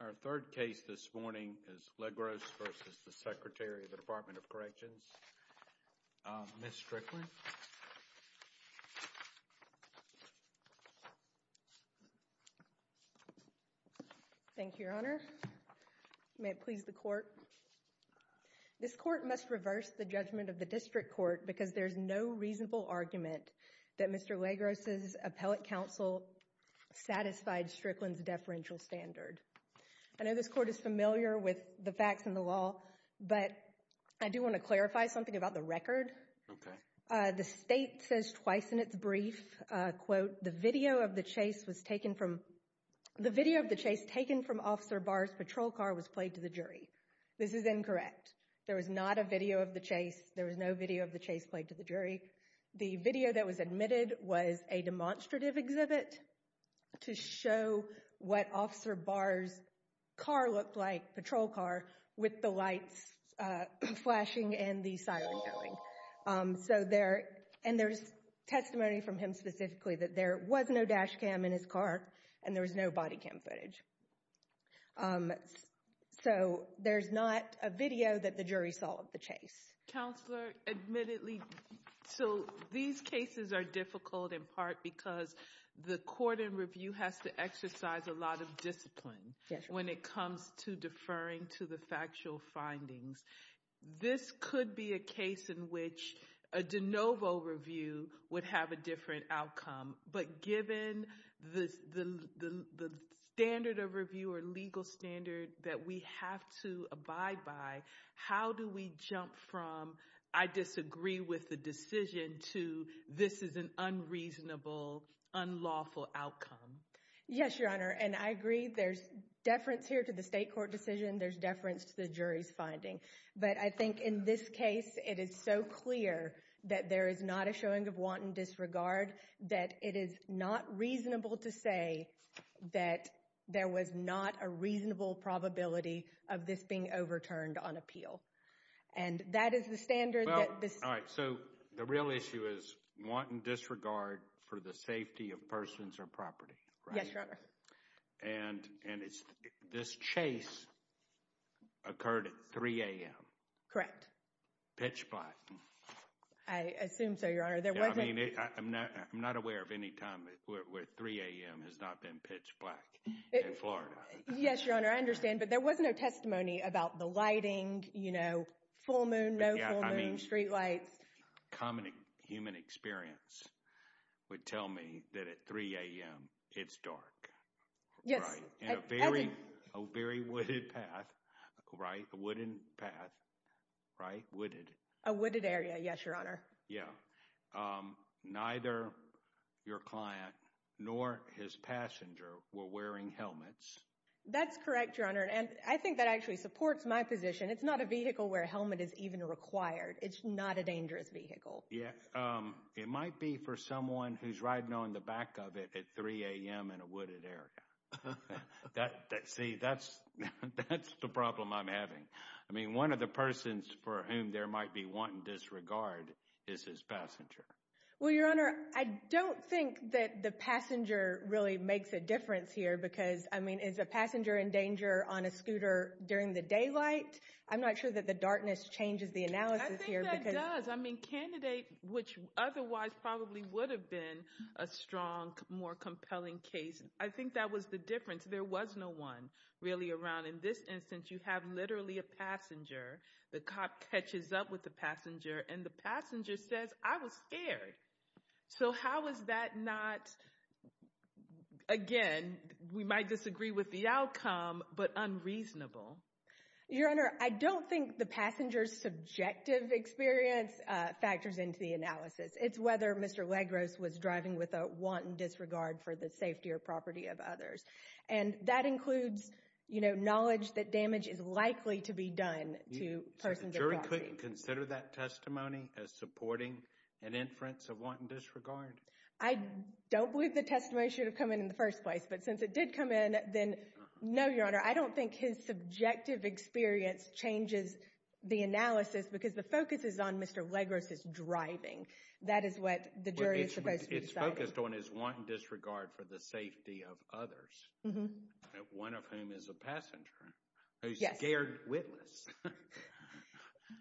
Our third case this morning is Legros v. Secretary, Department of Corrections. Ms. Strickland. Thank you, Your Honor. May it please the Court. This Court must reverse the judgment of the District Court because there is no reasonable argument that Mr. Legros' appellate counsel satisfied Strickland's deferential standard. I know this Court is familiar with the facts and the law, but I do want to clarify something about the record. Okay. The State says twice in its brief, quote, the video of the chase was taken from, the video of the chase taken from Officer Barr's patrol car was played to the jury. This is incorrect. There was not a video of the chase. There was no video of the chase played to the jury. The video that was admitted was a demonstrative exhibit to show what Officer Barr's car looked like, patrol car, with the lights flashing and the siren going. So there, and there's testimony from him specifically that there was no dash cam in his car and there was no body cam footage. So there's not a video that the jury saw of the chase. Counselor, admittedly, so these cases are difficult in part because the court in review has to exercise a lot of discipline when it comes to deferring to the factual findings. This could be a case in which a de novo review would have a different outcome. But given the standard of review or legal standard that we have to abide by, how do we jump from, I disagree with the decision, to this is an unreasonable, unlawful outcome? Yes, Your Honor, and I agree there's deference here to the state court decision. There's deference to the jury's finding. But I think in this case, it is so clear that there is not a showing of wanton disregard that it is not reasonable to say that there was not a reasonable probability of this being overturned on appeal. And that is the standard that this. All right. So the real issue is wanton disregard for the safety of persons or property, right? Yes, Your Honor. And this chase occurred at 3 a.m. Correct. Pitch black. I assume so, Your Honor. There wasn't. I mean, I'm not aware of any time where 3 a.m. has not been pitch black in Florida. Yes, Your Honor. I understand. But there was no testimony about the lighting, you know, full moon, no full moon, street lights. Yeah, I mean, common human experience would tell me that at 3 a.m. it's dark. Yes. And a very wooded path, right, a wooden path, right, wooded. A wooded area, yes, Your Honor. Yeah. Neither your client nor his passenger were wearing helmets. That's correct, Your Honor. And I think that actually supports my position. It's not a vehicle where a helmet is even required. It's not a dangerous vehicle. Yeah. It might be for someone who's riding on the back of it at 3 a.m. in a wooded area. See, that's the problem I'm having. I mean, one of the persons for whom there might be wanton disregard is his passenger. Well, Your Honor, I don't think that the passenger really makes a difference here because, I mean, is a passenger in danger on a scooter during the daylight? I'm not sure that the darkness changes the analysis here because— I think that does. I mean, candidate, which otherwise probably would have been a strong, more compelling case, I think that was the difference. There was no one really around. In this instance, you have literally a passenger. The cop catches up with the passenger, and the passenger says, I was scared. So how is that not, again, we might disagree with the outcome, but unreasonable? Your Honor, I don't think the passenger's subjective experience factors into the analysis. It's whether Mr. Legros was driving with a wanton disregard for the safety or property of others. And that includes, you know, knowledge that damage is likely to be done to persons of property. So you couldn't consider that testimony as supporting an inference of wanton disregard? I don't believe the testimony should have come in in the first place, but since it did come in, then no, Your Honor, I don't think his subjective experience changes the analysis because the focus is on Mr. Legros' driving. That is what the jury is supposed to be deciding. It's focused on his wanton disregard for the safety of others, one of whom is a passenger, a scared witness,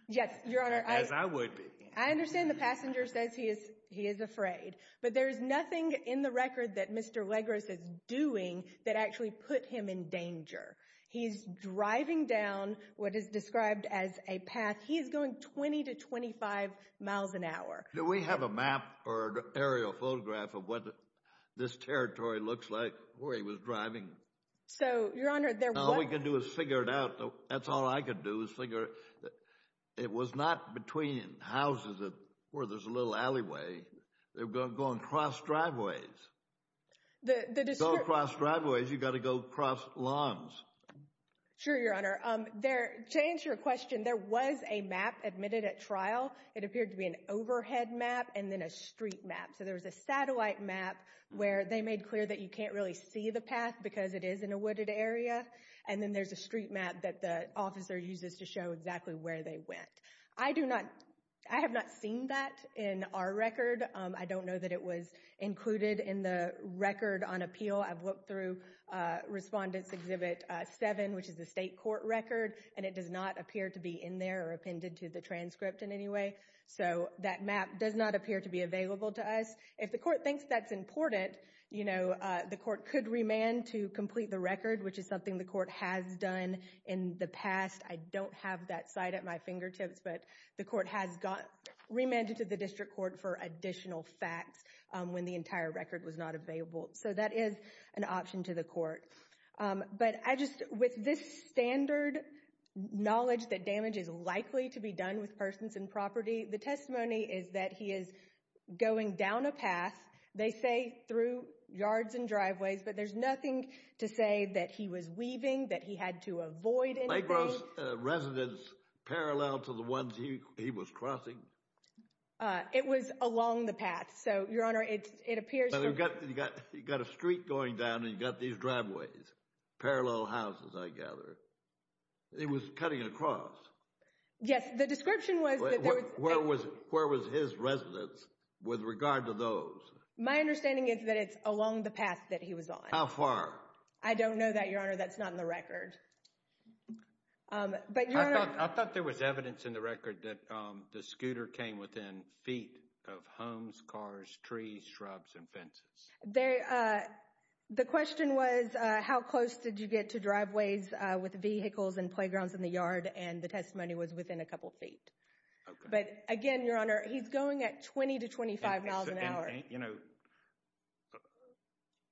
as I would be. I understand the passenger says he is afraid, but there is nothing in the record that Mr. Legros is doing that actually put him in danger. He's driving down what is described as a path. He is going 20 to 25 miles an hour. Do we have a map or aerial photograph of what this territory looks like where he was driving? So, Your Honor, there was... All we can do is figure it out. That's all I can do is figure it out. It was not between houses where there's a little alleyway. They were going across driveways. To go across driveways, you've got to go across lawns. Sure, Your Honor. To answer your question, there was a map admitted at trial. It appeared to be an overhead map and then a street map. So there was a satellite map where they made clear that you can't really see the path because it is in a wooded area. And then there's a street map that the officer uses to show exactly where they went. I do not... I have not seen that in our record. I don't know that it was included in the record on appeal. I've looked through Respondent's Exhibit 7, which is the state court record, and it does not appear to be in there or appended to the transcript in any way. So that map does not appear to be available to us. If the court thinks that's important, the court could remand to complete the record, which is something the court has done in the past. I don't have that site at my fingertips, but the court has remanded to the district court for additional facts when the entire record was not available. So that is an option to the court. But I just... With this standard knowledge that damage is likely to be done with persons and property, the testimony is that he is going down a path. They say through yards and driveways, but there's nothing to say that he was weaving, that he had to avoid anything. Lake Grosse residence parallel to the ones he was crossing? It was along the path. So, Your Honor, it appears... But you've got a street going down and you've got these driveways. Parallel houses, I gather. It was cutting across. Yes. The description was... Where was his residence with regard to those? My understanding is that it's along the path that he was on. How far? I don't know that, Your Honor. That's not in the record. But, Your Honor... I thought there was evidence in the record that the scooter came within feet of homes, cars, trees, shrubs, and fences. The question was, how close did you get to driveways with vehicles and playgrounds in the yard, and the testimony was within a couple feet. Okay. But, again, Your Honor, he's going at 20 to 25 miles an hour. You know,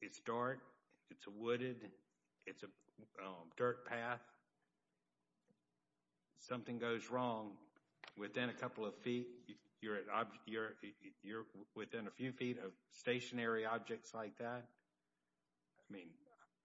it's dark, it's wooded, it's a dirt path. Something goes wrong within a couple of feet, you're within a few feet of stationary objects like that. I mean,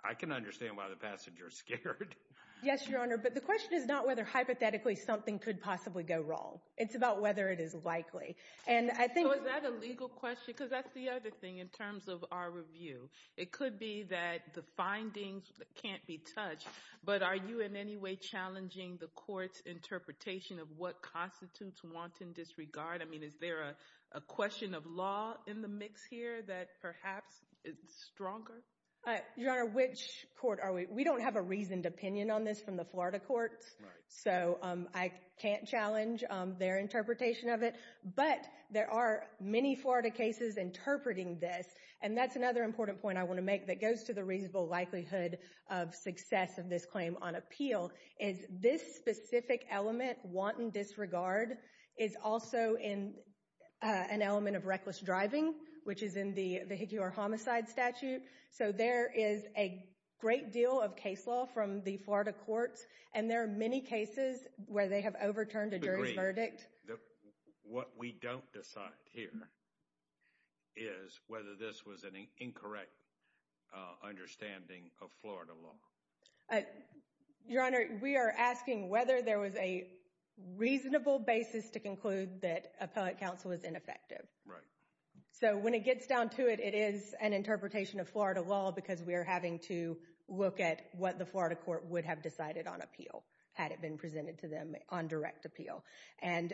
I can understand why the passenger is scared. Yes, Your Honor, but the question is not whether hypothetically something could possibly go wrong. It's about whether it is likely. So, is that a legal question? Because that's the other thing in terms of our review. It could be that the findings can't be touched, but are you in any way challenging the court's interpretation of what constitutes wanton disregard? I mean, is there a question of law in the mix here that perhaps is stronger? Your Honor, which court are we? We don't have a reasoned opinion on this from the Florida courts, so I can't challenge their interpretation of it, but there are many Florida cases interpreting this, and that's another important point I want to make that goes to the reasonable likelihood of success of this claim on appeal, is this specific element, wanton disregard, is also an element of reckless driving, which is in the Hickior Homicide Statute. So there is a great deal of case law from the Florida courts, and there are many cases where they have overturned a jury's verdict. What we don't decide here is whether this was an incorrect understanding of Florida law. Your Honor, we are asking whether there was a reasonable basis to conclude that appellate counsel was ineffective. So when it gets down to it, it is an interpretation of Florida law because we are having to look at what the Florida court would have decided on appeal had it been presented to them on direct appeal. And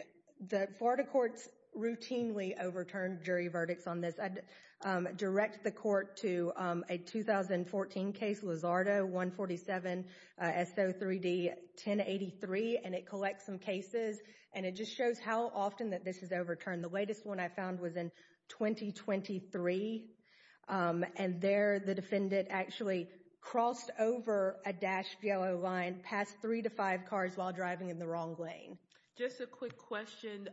the Florida courts routinely overturned jury verdicts on this. I direct the court to a 2014 case, Lizardo 147 SO 3D 1083, and it collects some cases, and it just shows how often that this is overturned. The latest one I found was in 2023, and there the defendant actually crossed over a dashed yellow line, passed three to five cars while driving in the wrong lane. Just a quick question,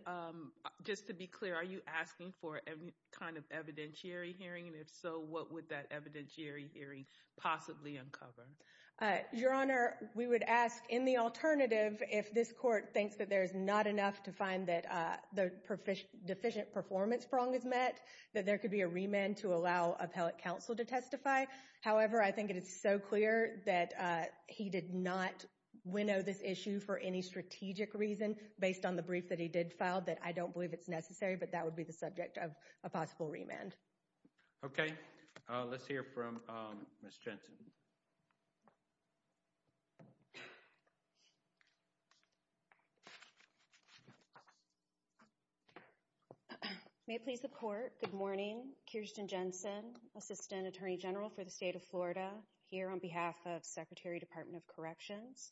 just to be clear, are you asking for any kind of evidentiary hearing? And if so, what would that evidentiary hearing possibly uncover? Your Honor, we would ask in the alternative if this court thinks that there is not enough to find that the deficient performance prong is met, that there could be a remand to allow appellate counsel to testify. However, I think it is so clear that he did not winnow this issue for any strategic reason based on the brief that he did file that I don't believe it's necessary, but that would be the subject of a possible remand. Okay, let's hear from Ms. Jensen. May it please the Court, good morning, Kirsten Jensen, Assistant Attorney General for the State of Florida, here on behalf of Secretary, Department of Corrections.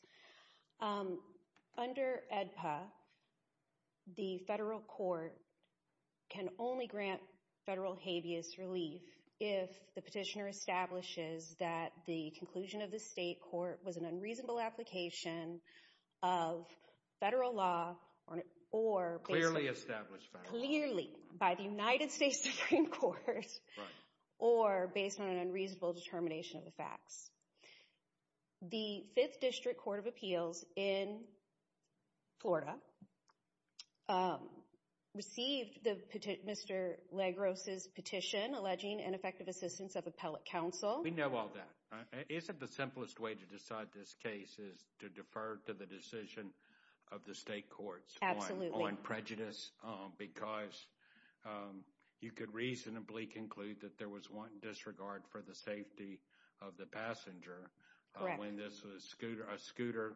Under AEDPA, the federal court can only grant federal habeas relief if the petitioner establishes that the conclusion of the state court was an unreasonable application of federal law or, clearly, by the United States Supreme Court, or based on an unreasonable determination of the facts. The Fifth District Court of Appeals in Florida received Mr. Lagros' petition alleging ineffective assistance of appellate counsel. We know all that. Isn't the simplest way to decide this case is to defer to the decision of the state courts on prejudice because you could reasonably conclude that there was one disregard for the safety of the passenger when this was a scooter,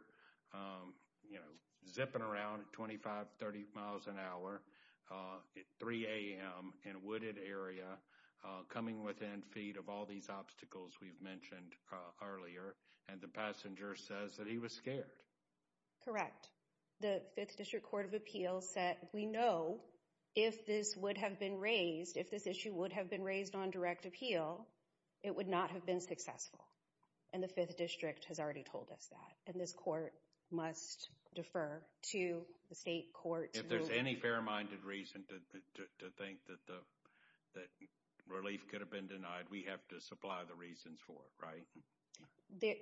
you know, zipping around at 25-30 miles an hour at 3 a.m. in a wooded area, coming within feet of all these obstacles we've mentioned earlier, and the passenger says that he was scared? Correct. The Fifth District Court of Appeals said, we know if this would have been raised, if this issue would have been raised on direct appeal, it would not have been successful, and the Fifth District has already told us that, and this court must defer to the state courts. If there's any fair-minded reason to think that relief could have been denied, we have to supply the reasons for it, right?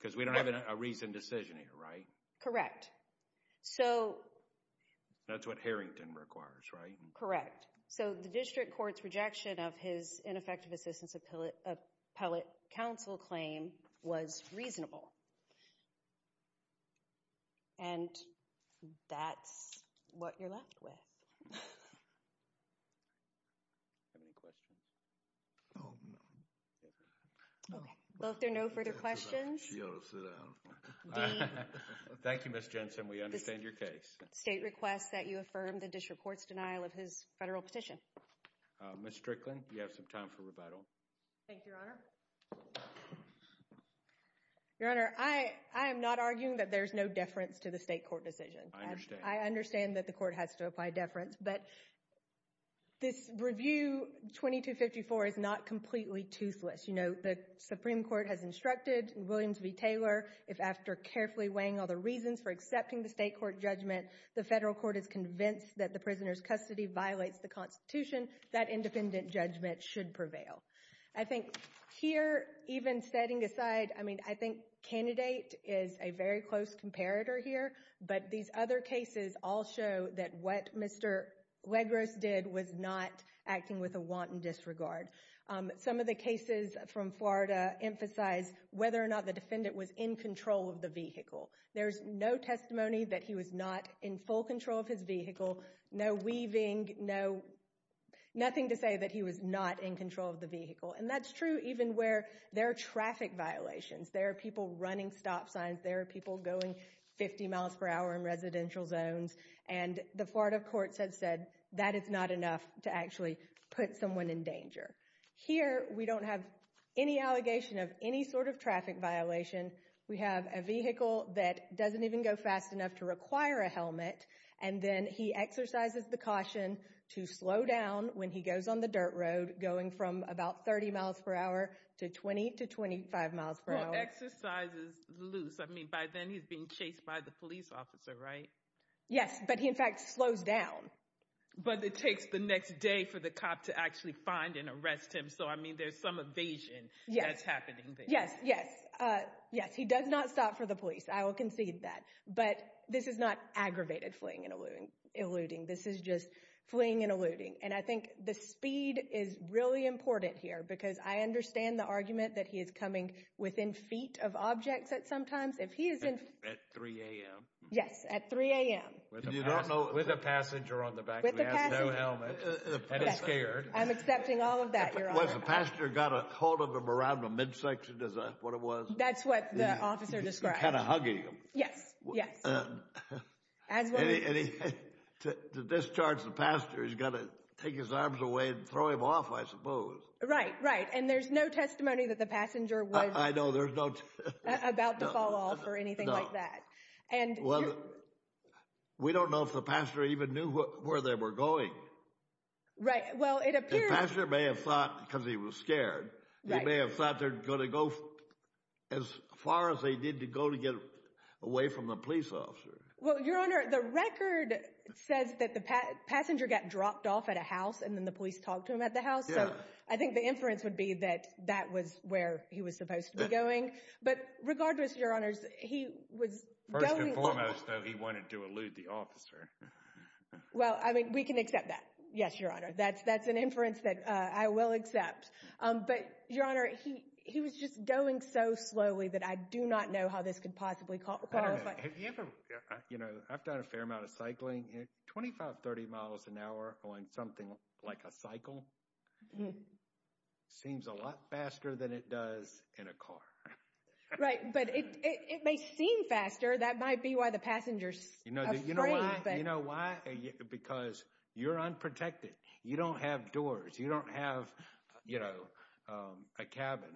Because we don't have a reasoned decision here, right? Correct. So... That's what Harrington requires, right? Correct. So the district court's rejection of his ineffective assistance of appellate counsel claim was reasonable, and that's what you're left with. Do you have any questions? No. Okay. Well, if there are no further questions... You ought to sit down. Thank you, Ms. Jensen, we understand your case. State requests that you affirm the district court's denial of his federal petition. Ms. Strickland, you have some time for rebuttal. Thank you, Your Honor. Your Honor, I am not arguing that there's no deference to the state court decision. I understand. I understand that the court has to apply deference, but this review 2254 is not completely toothless. You know, the Supreme Court has instructed Williams v. Taylor, if after carefully weighing all the reasons for accepting the state court judgment, the federal court is convinced that the prisoner's custody violates the Constitution, that independent judgment should prevail. I think here, even setting aside... I mean, I think candidate is a very close comparator here, but these other cases all show that what Mr. Legros did was not acting with a wanton disregard. Some of the cases from Florida emphasize whether or not the defendant was in control of the vehicle. There's no testimony that he was not in full control of his vehicle, no weaving, no... nothing to say that he was not in control of the vehicle. And that's true even where there are traffic violations. There are people running stop signs. There are people going 50 miles per hour in residential zones. And the Florida courts have said that it's not enough to actually put someone in danger. Here, we don't have any allegation of any sort of traffic violation. We have a vehicle that doesn't even go fast enough to require a helmet, and then he exercises the caution to slow down when he goes on the dirt road, going from about 30 miles per hour to 20 to 25 miles per hour. Well, exercise is loose. I mean, by then, he's being chased by the police officer, right? Yes, but he, in fact, slows down. But it takes the next day for the cop to actually find and arrest him. So, I mean, there's some evasion that's happening there. Yes, yes. Yes, he does not stop for the police. I will concede that. But this is not aggravated fleeing and eluding. This is just fleeing and eluding. And I think the speed is really important here, because I understand the argument that he is coming within feet of objects at some times. At 3 a.m.? Yes, at 3 a.m. With a passenger on the back. With a passenger. He has no helmet. And it's scared. I'm accepting all of that. Was the passenger got a hold of him around the midsection, is that what it was? That's what the officer described. He's kind of hugging him. Yes, yes. And to discharge the passenger, he's got to take his arms away and throw him off, I suppose. Right, right. And there's no testimony that the passenger was about to fall off or anything like that. No. We don't know if the passenger even knew where they were going. Right. Well, it appears... The passenger may have thought, because he was scared, he may have thought they're going as far as they did to go to get away from the police officer. Well, Your Honor, the record says that the passenger got dropped off at a house and then the police talked to him at the house. So I think the inference would be that that was where he was supposed to be going. But regardless, Your Honors, he was going... First and foremost, though, he wanted to elude the officer. Well, I mean, we can accept that. Yes, Your Honor. That's an inference that I will accept. But, Your Honor, he was just going so slowly that I do not know how this could possibly qualify. I don't know. Have you ever... You know, I've done a fair amount of cycling. Twenty-five, thirty miles an hour on something like a cycle seems a lot faster than it does in a car. Right. But it may seem faster. That might be why the passenger's afraid. You know why? Because you're unprotected. You don't have doors. You don't have, you know, a cabin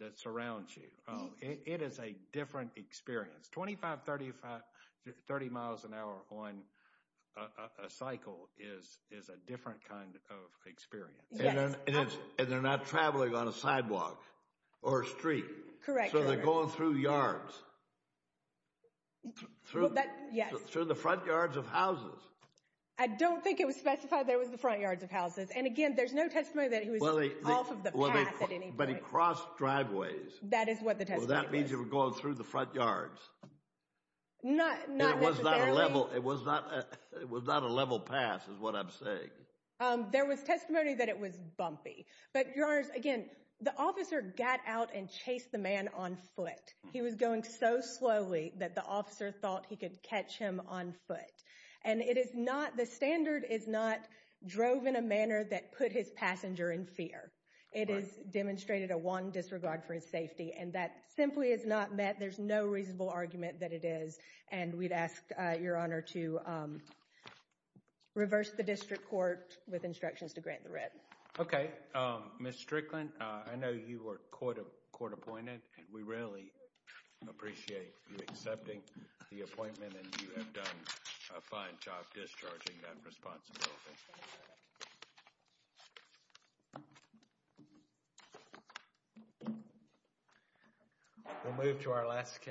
that surrounds you. It is a different experience. Twenty-five, thirty miles an hour on a cycle is a different kind of experience. Yes. And they're not traveling on a sidewalk or a street. Correct, Your Honor. So they're going through yards. Through the front yards of houses. I don't think it was specified there was the front yards of houses. And again, there's no testimony that he was off of the path at any point. But he crossed driveways. That is what the testimony says. Well, that means he was going through the front yards. Not necessarily. It was not a level pass is what I'm saying. There was testimony that it was bumpy. But, Your Honors, again, the officer got out and chased the man on foot. He was going so slowly that the officer thought he could catch him on foot. And it is not, the standard is not drove in a manner that put his passenger in fear. It is demonstrated a wrong disregard for his safety. And that simply is not met. There's no reasonable argument that it is. And we'd ask, Your Honor, to reverse the district court with instructions to grant the writ. Okay. Ms. Strickland, I know you were court appointed. And we really appreciate you accepting the appointment. And you have done a fine job discharging that responsibility. We'll move to our last case.